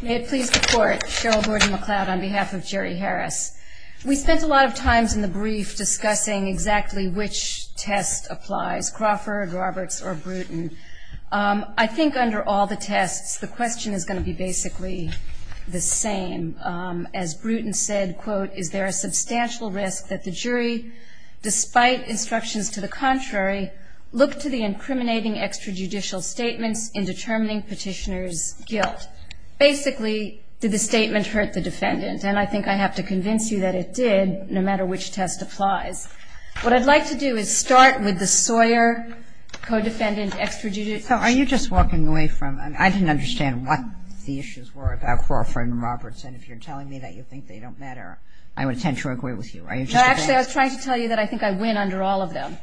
May it please the Court, Cheryl Gordon-McLeod on behalf of Jerry Harris. We spent a lot of time in the brief discussing exactly which test applies, Crawford, Roberts, or Bruton. I think under all the tests, the question is going to be basically the same. As Bruton said, quote, Is there a substantial risk that the jury, despite instructions to the contrary, look to the incriminating extrajudicial statements in determining petitioner's guilt? Basically, did the statement hurt the defendant? And I think I have to convince you that it did, no matter which test applies. What I'd like to do is start with the Sawyer co-defendant extrajudicial. So are you just walking away from, I didn't understand what the issues were about Crawford and Roberts. And if you're telling me that you think they don't matter, I would tend to agree with you. Actually, I was trying to tell you that I think I win under all of them.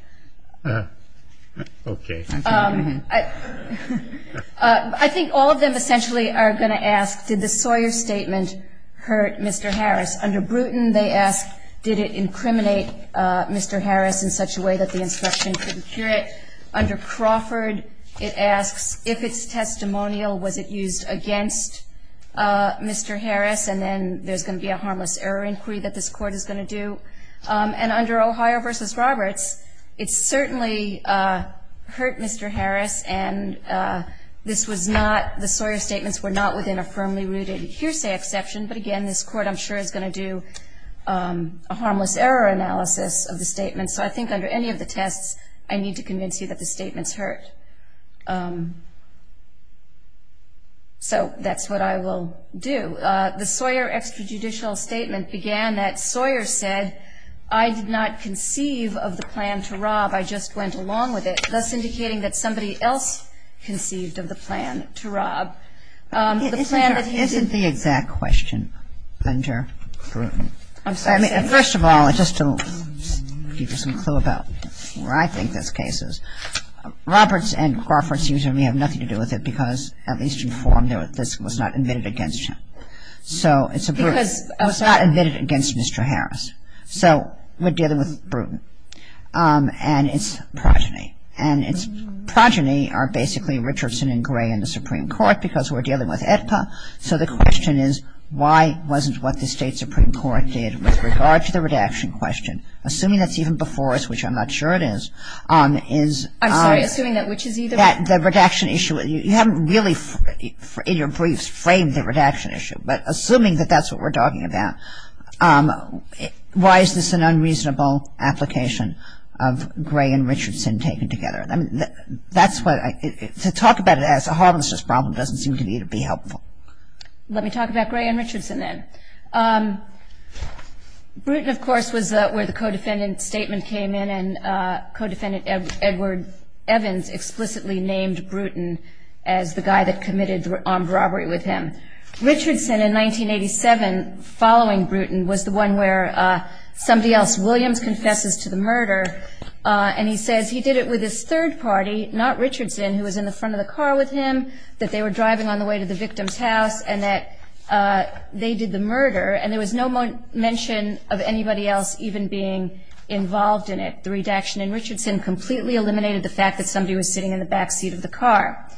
Okay. I think all of them essentially are going to ask, did the Sawyer statement hurt Mr. Harris? Under Bruton, they ask, did it incriminate Mr. Harris in such a way that the instruction could cure it? Under Crawford, it asks, if it's testimonial, was it used against Mr. Harris? And then there's going to be a harmless error inquiry that this Court is going to do. And under Ohio v. Roberts, it certainly hurt Mr. Harris. And this was not, the Sawyer statements were not within a firmly rooted hearsay exception. But, again, this Court, I'm sure, is going to do a harmless error analysis of the statements. And so I think under any of the tests, I need to convince you that the statements hurt. So that's what I will do. The Sawyer extrajudicial statement began that Sawyer said, I did not conceive of the plan to rob, I just went along with it, thus indicating that somebody else conceived of the plan to rob. The plan that he did. Isn't the exact question under Bruton? I'm sorry. First of all, just to give you some clue about where I think this case is, Roberts and Crawford seem to have nothing to do with it because, at least in form, this was not admitted against him. So it's a Bruton. It was not admitted against Mr. Harris. So we're dealing with Bruton and its progeny. And its progeny are basically Richardson and Gray in the Supreme Court because we're dealing with AEDPA. So the question is, why wasn't what the State Supreme Court did with regard to the redaction question, assuming that's even before us, which I'm not sure it is. I'm sorry, assuming that which is either? The redaction issue. You haven't really, in your briefs, framed the redaction issue. But assuming that that's what we're talking about, why is this an unreasonable application of Gray and Richardson taken together? To talk about it as a harmless just problem doesn't seem to me to be helpful. Let me talk about Gray and Richardson then. Bruton, of course, was where the co-defendant statement came in, and co-defendant Edward Evans explicitly named Bruton as the guy that committed the armed robbery with him. Richardson, in 1987, following Bruton, was the one where somebody else, Williams, confesses to the murder, and he says he did it with his third party, not Richardson, who was in the front of the car with him, that they were driving on the way to the victim's house, and that they did the murder, and there was no mention of anybody else even being involved in it. The redaction in Richardson completely eliminated the fact that somebody was sitting in the backseat of the car.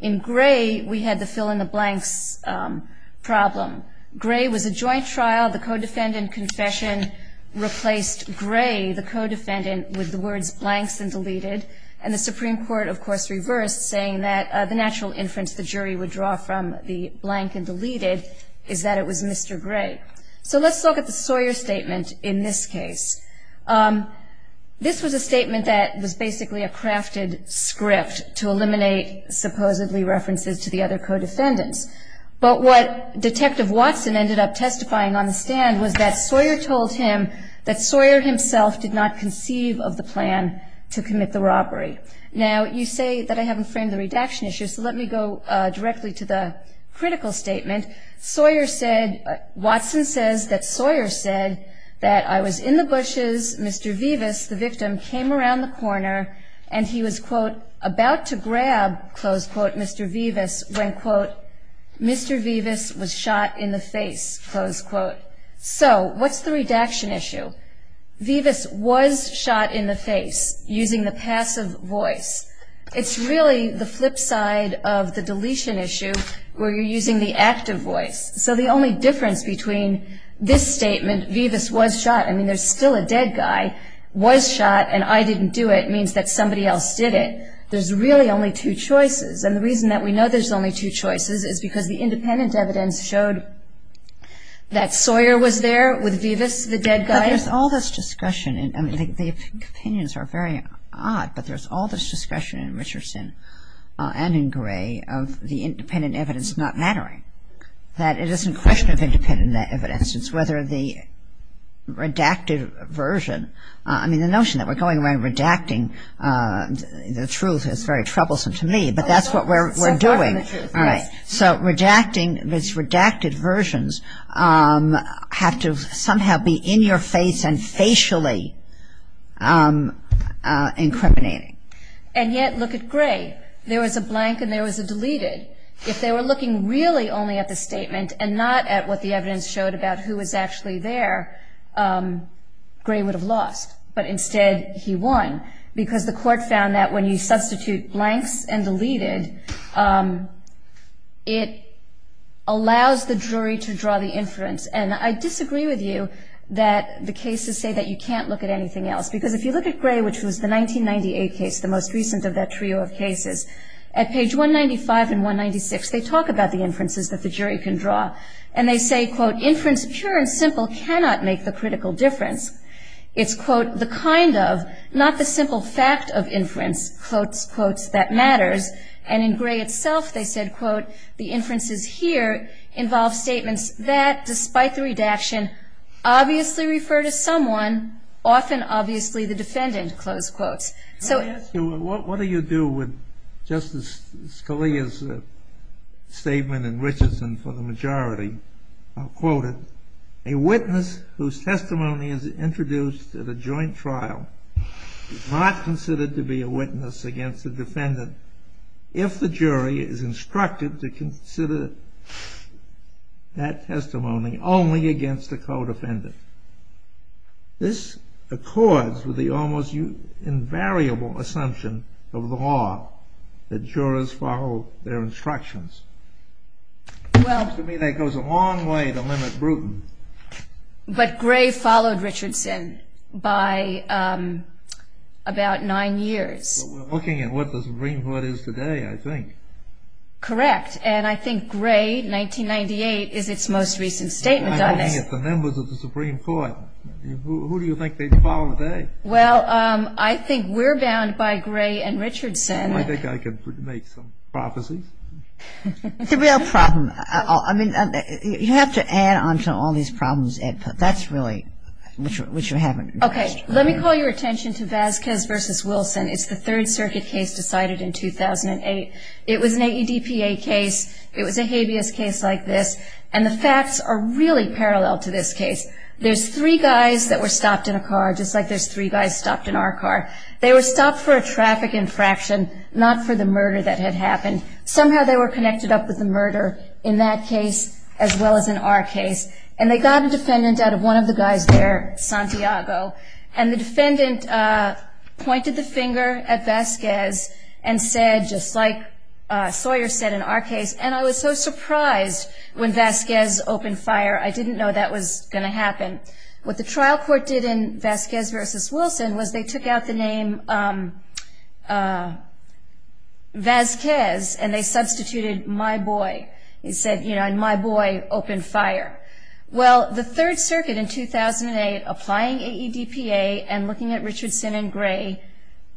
In Gray, we had the fill-in-the-blanks problem. Gray was a joint trial. The co-defendant confession replaced Gray, the co-defendant, with the words blanks and deleted, and the Supreme Court, of course, reversed, saying that the natural inference the jury would draw from the blank and deleted is that it was Mr. Gray. So let's look at the Sawyer statement in this case. This was a statement that was basically a crafted script to eliminate supposedly references to the other co-defendants, but what Detective Watson ended up testifying on the stand was that Sawyer told him that Sawyer himself did not conceive of the plan to commit the robbery. Now, you say that I haven't framed the redaction issue, so let me go directly to the critical statement. Watson says that Sawyer said that, I was in the bushes, Mr. Vivas, the victim, came around the corner, and he was, quote, about to grab, close quote, Mr. Vivas, when, quote, Mr. Vivas was shot in the face, close quote. So what's the redaction issue? Vivas was shot in the face using the passive voice. It's really the flip side of the deletion issue where you're using the active voice. So the only difference between this statement, Vivas was shot, I mean, there's still a dead guy, was shot, and I didn't do it means that somebody else did it. There's really only two choices, and the reason that we know there's only two choices is because the independent evidence showed that Sawyer was there with Vivas, the dead guy. But there's all this discussion, and the opinions are very odd, but there's all this discussion in Richardson and in Gray of the independent evidence not mattering, that it isn't a question of independent evidence, it's whether the redacted version, I mean, the notion that we're going around redacting the truth is very troublesome to me, but that's what we're doing. So redacting these redacted versions have to somehow be in your face and facially incriminating. And yet, look at Gray. There was a blank, and there was a deleted. If they were looking really only at the statement and not at what the evidence showed about who was actually there, Gray would have lost, but instead he won because the court found that when you substitute blanks and deleted, it allows the jury to draw the inference. And I disagree with you that the cases say that you can't look at anything else because if you look at Gray, which was the 1998 case, the most recent of that trio of cases, at page 195 and 196, they talk about the inferences that the jury can draw. And they say, quote, inference pure and simple cannot make the critical difference. It's, quote, the kind of, not the simple fact of inference, quotes, quotes, that matters. And in Gray itself they said, quote, the inferences here involve statements that, despite the redaction, obviously refer to someone, often obviously the defendant, close quotes. What do you do with Justice Scalia's statement in Richardson for the majority? Quote, a witness whose testimony is introduced at a joint trial is not considered to be a witness against the defendant if the jury is instructed to consider that testimony only against the co-defendant. This accords with the almost invariable assumption of the law, that jurors follow their instructions. Well, to me that goes a long way to limit brutal. But Gray followed Richardson by about nine years. But we're looking at what the Supreme Court is today, I think. Correct. And I think Gray, 1998, is its most recent statement. I'm looking at the members of the Supreme Court. Who do you think they'd follow today? Well, I think we're bound by Gray and Richardson. I think I could make some prophecies. The real problem, I mean, you have to add on to all these problems, Ed, but that's really what you haven't addressed. Okay. Let me call your attention to Vasquez v. Wilson. It's the Third Circuit case decided in 2008. It was an AEDPA case. It was a habeas case like this. And the facts are really parallel to this case. There's three guys that were stopped in a car, just like there's three guys stopped in our car. They were stopped for a traffic infraction, not for the murder that had happened. Somehow they were connected up with the murder in that case as well as in our case. And they got a defendant out of one of the guys there, Santiago. And the defendant pointed the finger at Vasquez and said, just like Sawyer said in our case, and I was so surprised when Vasquez opened fire. I didn't know that was going to happen. What the trial court did in Vasquez v. Wilson was they took out the name Vasquez and they substituted my boy. It said, you know, and my boy opened fire. Well, the Third Circuit in 2008 applying AEDPA and looking at Richardson and Gray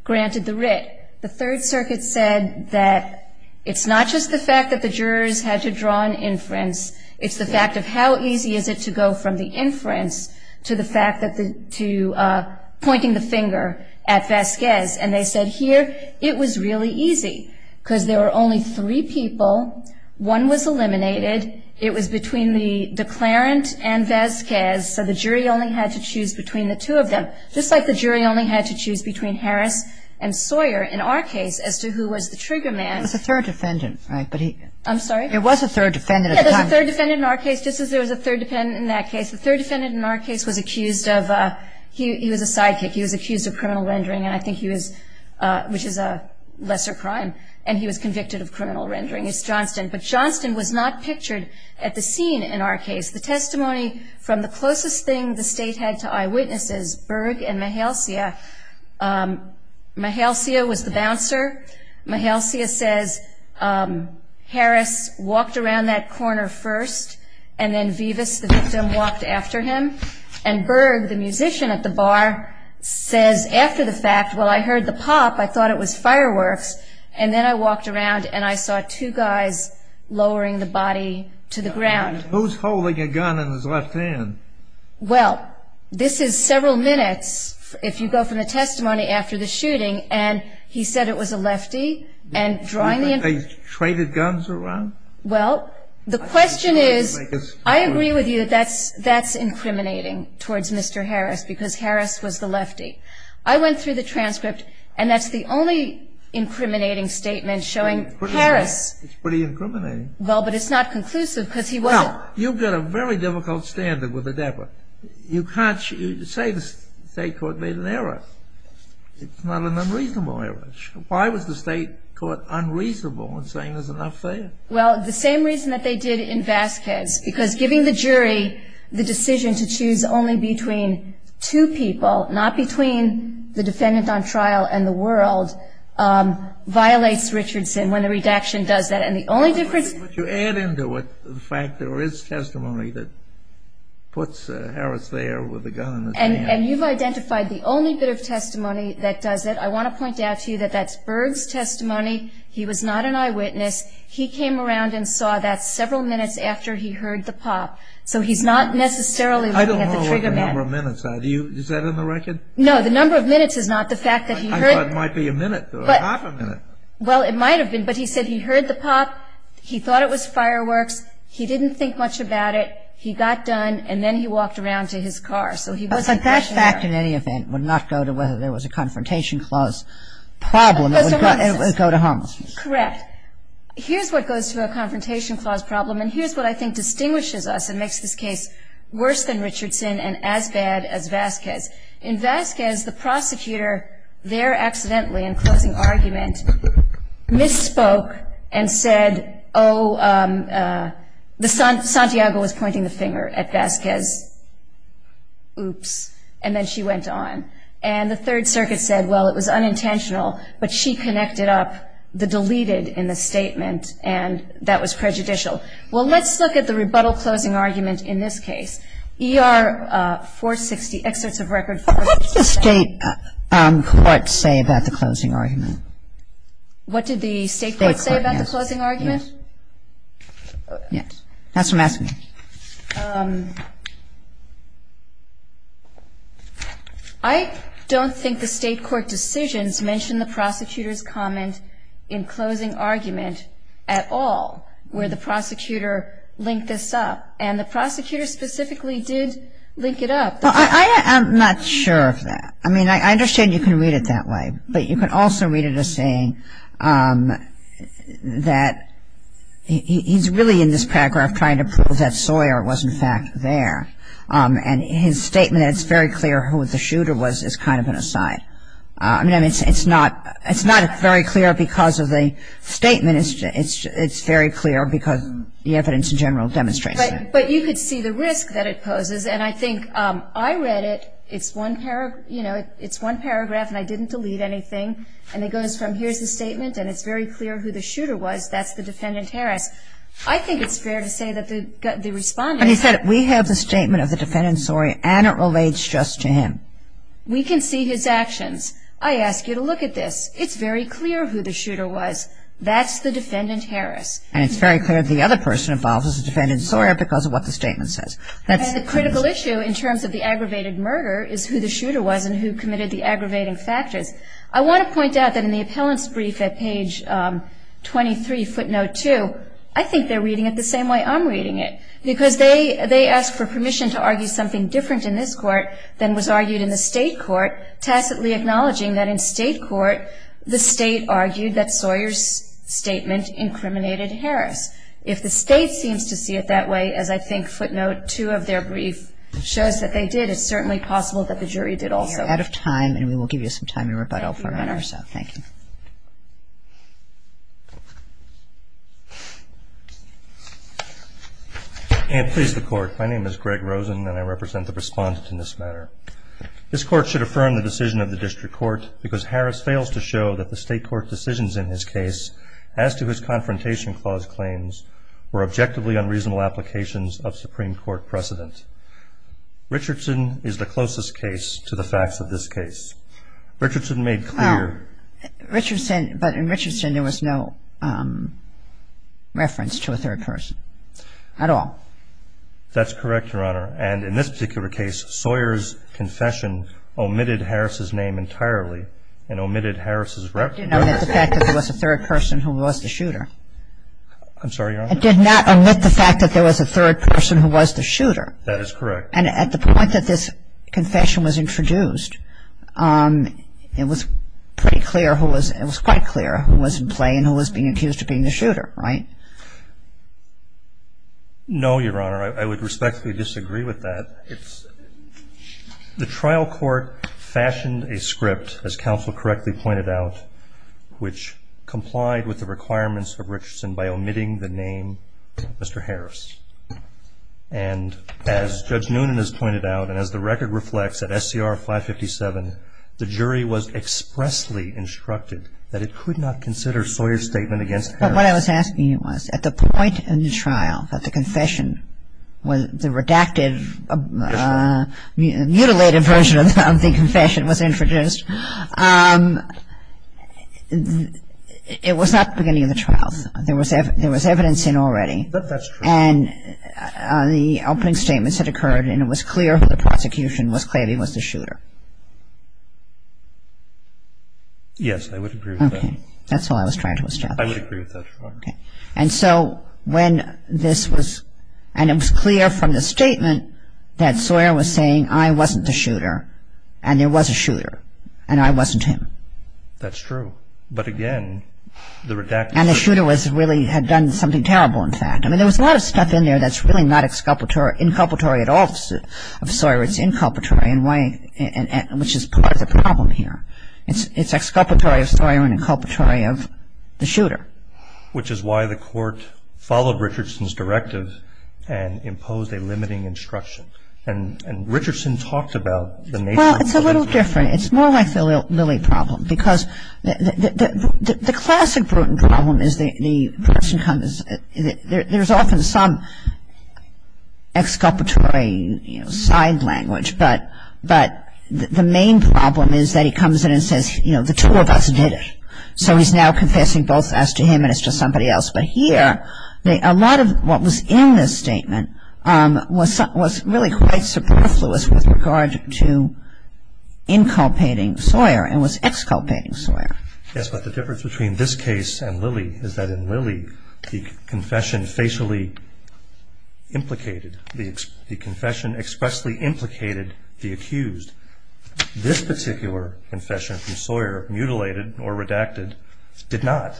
granted the writ. The Third Circuit said that it's not just the fact that the jurors had to draw an inference, it's the fact of how easy is it to go from the inference to pointing the finger at Vasquez. And they said here it was really easy because there were only three people. One was eliminated. It was between the declarant and Vasquez, so the jury only had to choose between the two of them. Just like the jury only had to choose between Harris and Sawyer in our case as to who was the trigger man. It was a third defendant, right? I'm sorry? It was a third defendant. Yeah, there was a third defendant in our case, just as there was a third defendant in that case. The third defendant in our case was accused of, he was a sidekick, he was accused of criminal rendering, and I think he was, which is a lesser crime, and he was convicted of criminal rendering. It's Johnston. But Johnston was not pictured at the scene in our case. The testimony from the closest thing the state had to eyewitnesses, Berg and Mahalcia. Mahalcia was the bouncer. Mahalcia says Harris walked around that corner first, and then Vivas, the victim, walked after him. And Berg, the musician at the bar, says after the fact, well, I heard the pop, I thought it was fireworks, and then I walked around and I saw two guys lowering the body to the ground. Who's holding a gun in his left hand? Well, this is several minutes, if you go from the testimony after the shooting, and he said it was a lefty, and drawing the information. Do you think they traded guns around? Well, the question is, I agree with you that that's incriminating towards Mr. Harris, because Harris was the lefty. I went through the transcript, and that's the only incriminating statement showing Harris. It's pretty incriminating. Well, but it's not conclusive, because he wasn't. Well, you've got a very difficult standard with the debtor. You can't say the state court made an error. It's not an unreasonable error. Why was the state court unreasonable in saying there's enough there? Well, the same reason that they did in Vasquez, because giving the jury the decision to choose only between two people, not between the defendant on trial and the world, violates Richardson when the redaction does that. But you add into it the fact there is testimony that puts Harris there with a gun in his hand. And you've identified the only bit of testimony that does it. I want to point out to you that that's Berg's testimony. He was not an eyewitness. He came around and saw that several minutes after he heard the pop. So he's not necessarily looking at the trigger man. I don't know what the number of minutes are. Is that in the record? No, the number of minutes is not. I thought it might be a minute or half a minute. Well, it might have been. But he said he heard the pop. He thought it was fireworks. He didn't think much about it. He got done. And then he walked around to his car. So he wasn't there. But that fact, in any event, would not go to whether there was a Confrontation Clause problem. It would go to harmlessness. Correct. Here's what goes to a Confrontation Clause problem, and here's what I think distinguishes us and makes this case worse than Richardson and as bad as Vasquez. In Vasquez, the prosecutor there accidentally, in closing argument, misspoke and said, oh, Santiago was pointing the finger at Vasquez. Oops. And then she went on. And the Third Circuit said, well, it was unintentional, but she connected up the deleted in the statement, and that was prejudicial. Well, let's look at the rebuttal closing argument in this case. E.R. 460, Excerpts of Record 460. What did the State courts say about the closing argument? What did the State courts say about the closing argument? Yes. That's what I'm asking. I don't think the State court decisions mention the prosecutor's comment in closing argument at all, where the prosecutor linked this up. And the prosecutor specifically did link it up. Well, I am not sure of that. I mean, I understand you can read it that way, but you can also read it as saying that he's really, in this paragraph, trying to prove that Sawyer was, in fact, there. And his statement, it's very clear who the shooter was, is kind of an aside. I mean, it's not very clear because of the statement. It's very clear because the evidence in general demonstrates that. But you could see the risk that it poses. And I think I read it. It's one paragraph, and I didn't delete anything. And it goes from here's the statement, and it's very clear who the shooter was. That's the defendant, Harris. I think it's fair to say that the respondent. But he said we have the statement of the defendant, Sawyer, and it relates just to him. We can see his actions. I ask you to look at this. It's very clear who the shooter was. That's the defendant, Harris. And it's very clear the other person involved was the defendant, Sawyer, because of what the statement says. And the critical issue in terms of the aggravated murder is who the shooter was and who committed the aggravating factors. I want to point out that in the appellant's brief at page 23, footnote 2, I think they're reading it the same way I'm reading it. Because they ask for permission to argue something different in this court than was argued in the State court, tacitly acknowledging that in State court, the State argued that Sawyer's statement incriminated Harris. If the State seems to see it that way, as I think footnote 2 of their brief shows that they did, it's certainly possible that the jury did also. We are out of time, and we will give you some time to rebuttal. Thank you, Your Honor. Thank you. And please, the Court. My name is Greg Rosen, and I represent the respondent in this matter. This Court should affirm the decision of the District Court, because Harris fails to show that the State court decisions in his case, as to his Confrontation Clause claims, were objectively unreasonable applications of Supreme Court precedent. Richardson is the closest case to the facts of this case. Richardson made clear. Well, Richardson, but in Richardson, there was no reference to a third person at all. That's correct, Your Honor. And in this particular case, Sawyer's confession omitted Harris's name entirely, and omitted Harris's reference. It did not omit the fact that there was a third person who was the shooter. I'm sorry, Your Honor? It did not omit the fact that there was a third person who was the shooter. That is correct. And at the point that this confession was introduced, it was pretty clear who was, it was quite clear who was in play and who was being accused of being the shooter, right? No, Your Honor. I would respectfully disagree with that. The trial court fashioned a script, as counsel correctly pointed out, which complied with the requirements of Richardson by omitting the name Mr. Harris. And as Judge Noonan has pointed out, and as the record reflects at SCR 557, the jury was expressly instructed that it could not consider Sawyer's statement against Harris. But what I was asking you was, at the point in the trial that the confession was, the redacted, mutilated version of the confession was introduced, it was not the beginning of the trial. There was evidence in already. But that's true. And the opening statements had occurred, and it was clear who the prosecution was claiming was the shooter. Yes, I would agree with that. Okay. That's all I was trying to establish. I would agree with that, Your Honor. Okay. And so when this was, and it was clear from the statement that Sawyer was saying, I wasn't the shooter, and there was a shooter, and I wasn't him. That's true. But again, the redacted version. And the shooter was really, had done something terrible, in fact. I mean, there was a lot of stuff in there that's really not inculpatory at all of Sawyer. It's inculpatory, which is part of the problem here. It's exculpatory of Sawyer and inculpatory of the shooter. Which is why the court followed Richardson's directive and imposed a limiting instruction. And Richardson talked about the nature of the problem. Well, it's a little different. It's more like the Lilly problem. Because the classic Bruton problem is the person comes, there's often some exculpatory, you know, side language. But the main problem is that he comes in and says, you know, the two of us did it. So he's now confessing both as to him and as to somebody else. But here, a lot of what was in this statement was really quite superfluous with regard to inculpating Sawyer and was exculpating Sawyer. Yes, but the difference between this case and Lilly is that in Lilly, the confession expressly implicated the accused. This particular confession from Sawyer, mutilated or redacted, did not.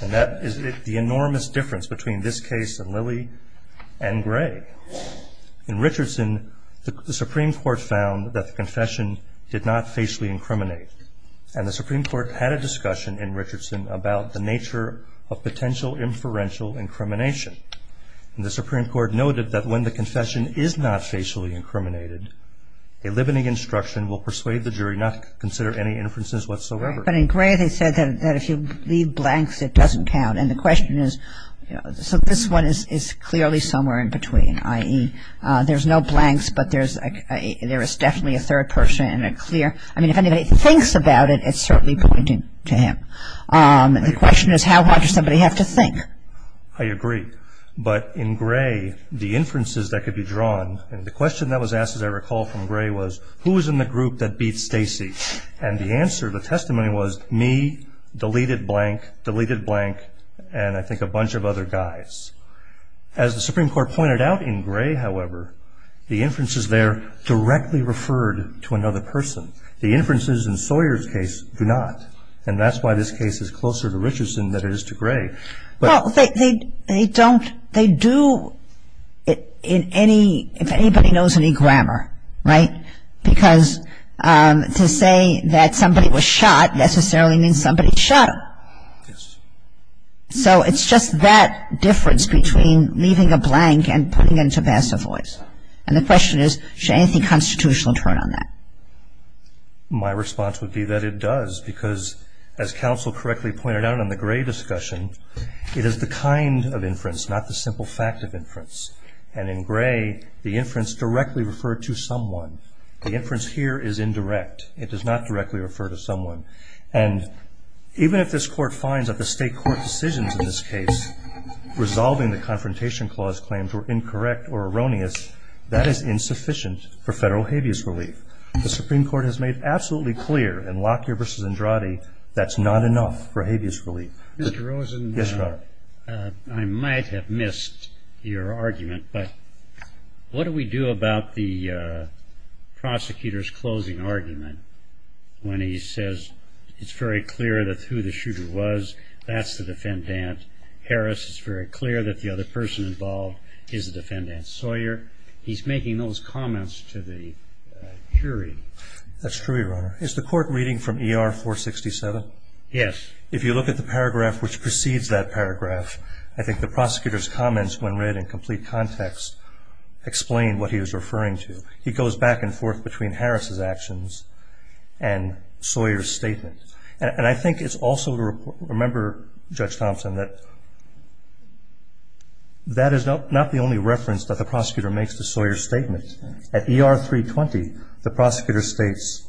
And that is the enormous difference between this case and Lilly and Gray. In Richardson, the Supreme Court found that the confession did not facially incriminate. And the Supreme Court had a discussion in Richardson about the nature of potential inferential incrimination. And the Supreme Court noted that when the confession is not facially incriminated, a limiting instruction will persuade the jury not to consider any inferences whatsoever. But in Gray, they said that if you leave blanks, it doesn't count. And the question is, you know, so this one is clearly somewhere in between, i.e., there's no blanks, but there is definitely a third person and a clear. I mean, if anybody thinks about it, it's certainly pointing to him. The question is, how hard does somebody have to think? I agree. But in Gray, the inferences that could be drawn, and the question that was asked as I recall from Gray was, who was in the group that beat Stacy? And the answer, the testimony was, me, deleted blank, deleted blank, and I think a bunch of other guys. As the Supreme Court pointed out in Gray, however, the inferences there directly referred to another person. The inferences in Sawyer's case do not, and that's why this case is closer to Richardson than it is to Gray. Well, they don't, they do in any, if anybody knows any grammar, right? Because to say that somebody was shot necessarily means somebody shot him. Yes. So it's just that difference between leaving a blank and putting it into passive voice. And the question is, should anything constitutional turn on that? My response would be that it does, because as counsel correctly pointed out in the Gray discussion, it is the kind of inference, not the simple fact of inference. And in Gray, the inference directly referred to someone. The inference here is indirect. It does not directly refer to someone. And even if this Court finds that the state court decisions in this case, resolving the Confrontation Clause claims were incorrect or erroneous, that is insufficient for federal habeas relief. The Supreme Court has made absolutely clear in Lockyer v. Andrade that's not enough for habeas relief. Mr. Rosen. Yes, Your Honor. I might have missed your argument, but what do we do about the prosecutor's closing argument when he says it's very clear that who the shooter was, that's the defendant. Harris, it's very clear that the other person involved is the defendant. Sawyer, he's making those comments to the jury. That's true, Your Honor. Is the Court reading from ER 467? Yes. If you look at the paragraph which precedes that paragraph, I think the prosecutor's comments when read in complete context explain what he was referring to. He goes back and forth between Harris's actions and Sawyer's statement. And I think it's also to remember, Judge Thompson, that that is not the only reference that the prosecutor makes to Sawyer's statement. At ER 320, the prosecutor states,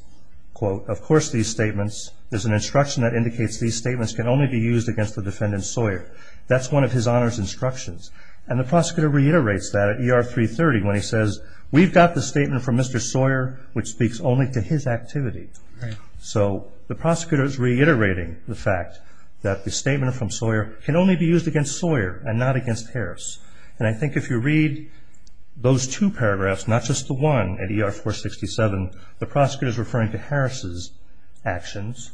quote, there's an instruction that indicates these statements can only be used against the defendant Sawyer. That's one of his honors instructions. And the prosecutor reiterates that at ER 330 when he says, we've got the statement from Mr. Sawyer which speaks only to his activity. Right. So the prosecutor's reiterating the fact that the statement from Sawyer can only be used against Sawyer and not against Harris. And I think if you read those two paragraphs, not just the one at ER 467, the prosecutor's referring to Harris's actions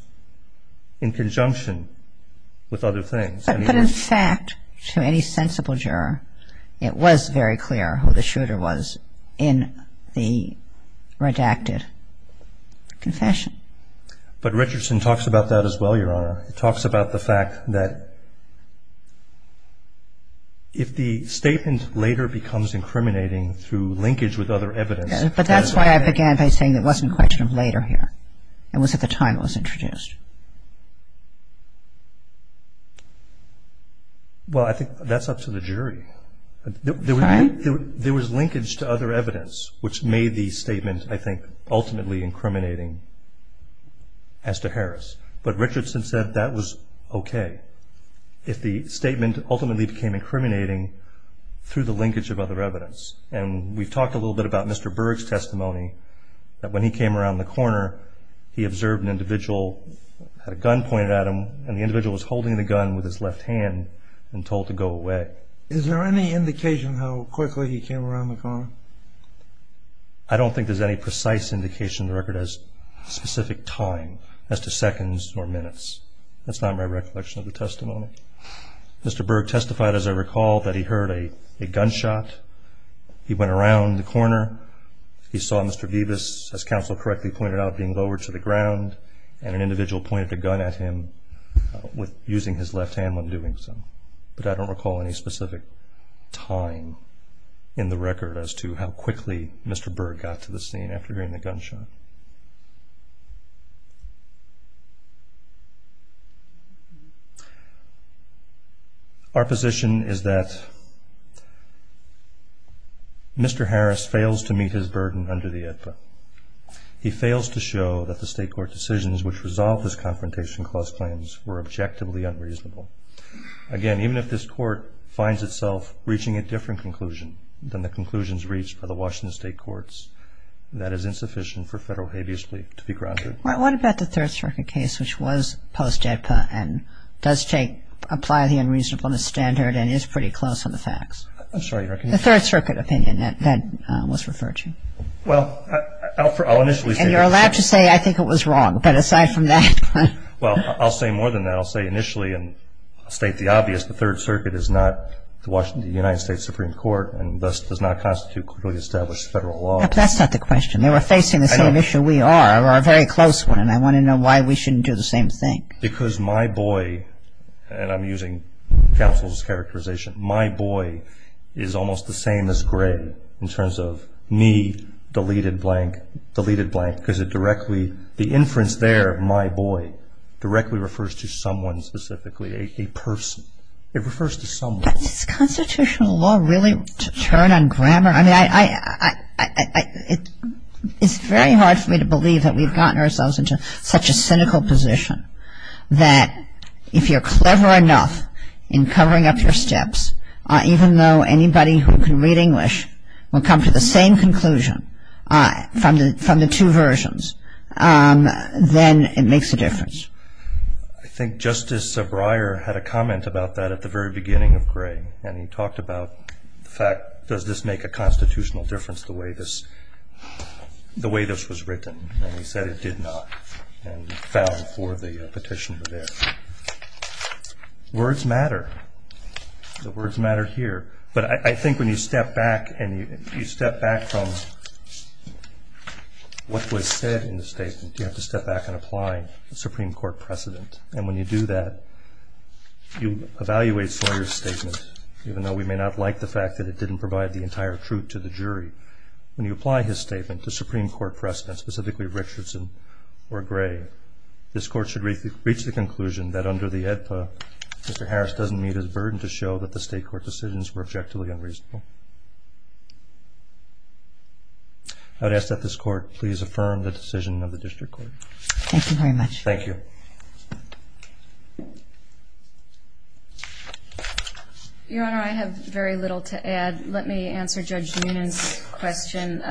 in conjunction with other things. But in fact, to any sensible juror, it was very clear who the shooter was in the redacted confession. But Richardson talks about that as well, Your Honor. He talks about the fact that if the statement later becomes incriminating through linkage with other evidence. But that's why I began by saying it wasn't questioned later here. It was at the time it was introduced. Well, I think that's up to the jury. There was linkage to other evidence which made the statement, I think, ultimately incriminating as to Harris. But Richardson said that was okay. If the statement ultimately became incriminating through the linkage of other evidence. And we've talked a little bit about Mr. Berg's testimony that when he came around the corner, he observed an individual, had a gun pointed at him, and the individual was holding the gun with his left hand and told to go away. Is there any indication how quickly he came around the corner? I don't think there's any precise indication in the record as to specific time, as to seconds or minutes. That's not my recollection of the testimony. Mr. Berg testified, as I recall, that he heard a gunshot. He went around the corner. He saw Mr. Vivas, as counsel correctly pointed out, being lowered to the ground, and an individual pointed a gun at him using his left hand when doing so. But I don't recall any specific time in the record as to how quickly Mr. Berg got to the scene after hearing the gunshot. Our position is that Mr. Harris fails to meet his burden under the AEDPA. He fails to show that the state court decisions which resolved his Confrontation Clause claims were objectively unreasonable. Again, even if this Court finds itself reaching a different conclusion than the conclusions reached by the Washington State Courts, that is insufficient for federal habeas belief to be grounded. What about the Third Circuit case, which was post-AEDPA and does take, apply the unreasonableness standard and is pretty close on the facts? I'm sorry. The Third Circuit opinion that was referred to. Well, I'll initially state it. And you're allowed to say, I think it was wrong, but aside from that. Well, I'll say more than that. I'll say initially and state the obvious. The Third Circuit is not the Washington United States Supreme Court and thus does not constitute clearly established federal law. That's not the question. They were facing the same issue we are. Or a very close one. And I want to know why we shouldn't do the same thing. Because my boy, and I'm using counsel's characterization, my boy is almost the same as gray in terms of me, deleted blank, deleted blank, because it directly, the inference there, my boy, directly refers to someone specifically, a person. It refers to someone. Is constitutional law really to turn on grammar? I mean, it's very hard for me to believe that we've gotten ourselves into such a cynical position that if you're clever enough in covering up your steps, even though anybody who can read English will come to the same conclusion from the two versions, then it makes a difference. I think Justice Breyer had a comment about that at the very beginning of gray. And he talked about the fact, does this make a constitutional difference the way this was written? And he said it did not. And he fell for the petition there. Words matter. The words matter here. But I think when you step back and you step back from what was said in the statement, you have to step back and apply the Supreme Court precedent. And when you do that, you evaluate Sawyer's statement, even though we may not like the fact that it didn't provide the entire truth to the jury. When you apply his statement to Supreme Court precedent, specifically Richardson or Gray, this Court should reach the conclusion that under the AEDPA, Mr. Harris doesn't meet his burden to show that the State Court decisions were objectively unreasonable. I would ask that this Court please affirm the decision of the District Court. Thank you very much. Thank you. Your Honor, I have very little to add. Let me answer Judge Noonan's question.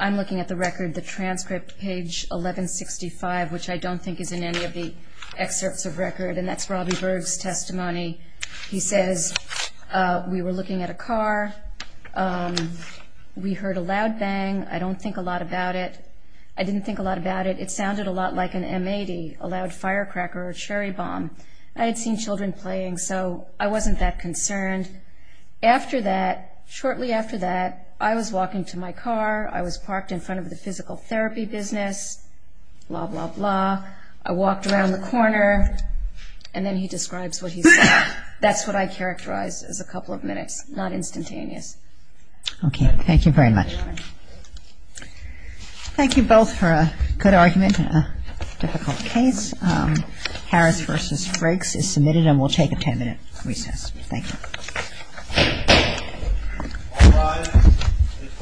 I'm looking at the record, the transcript, page 1165, which I don't think is in any of the excerpts of record. And that's Robbie Berg's testimony. He says, we were looking at a car. We heard a loud bang. I don't think a lot about it. I didn't think a lot about it. It sounded a lot like an M-80. A loud firecracker or cherry bomb. I had seen children playing, so I wasn't that concerned. After that, shortly after that, I was walking to my car. I was parked in front of the physical therapy business, blah, blah, blah. I walked around the corner. And then he describes what he saw. That's what I characterized as a couple of minutes, not instantaneous. Okay. Thank you very much. Thank you both for a good argument in a difficult case. Harris v. Frakes is submitted, and we'll take a 10-minute recess. Thank you.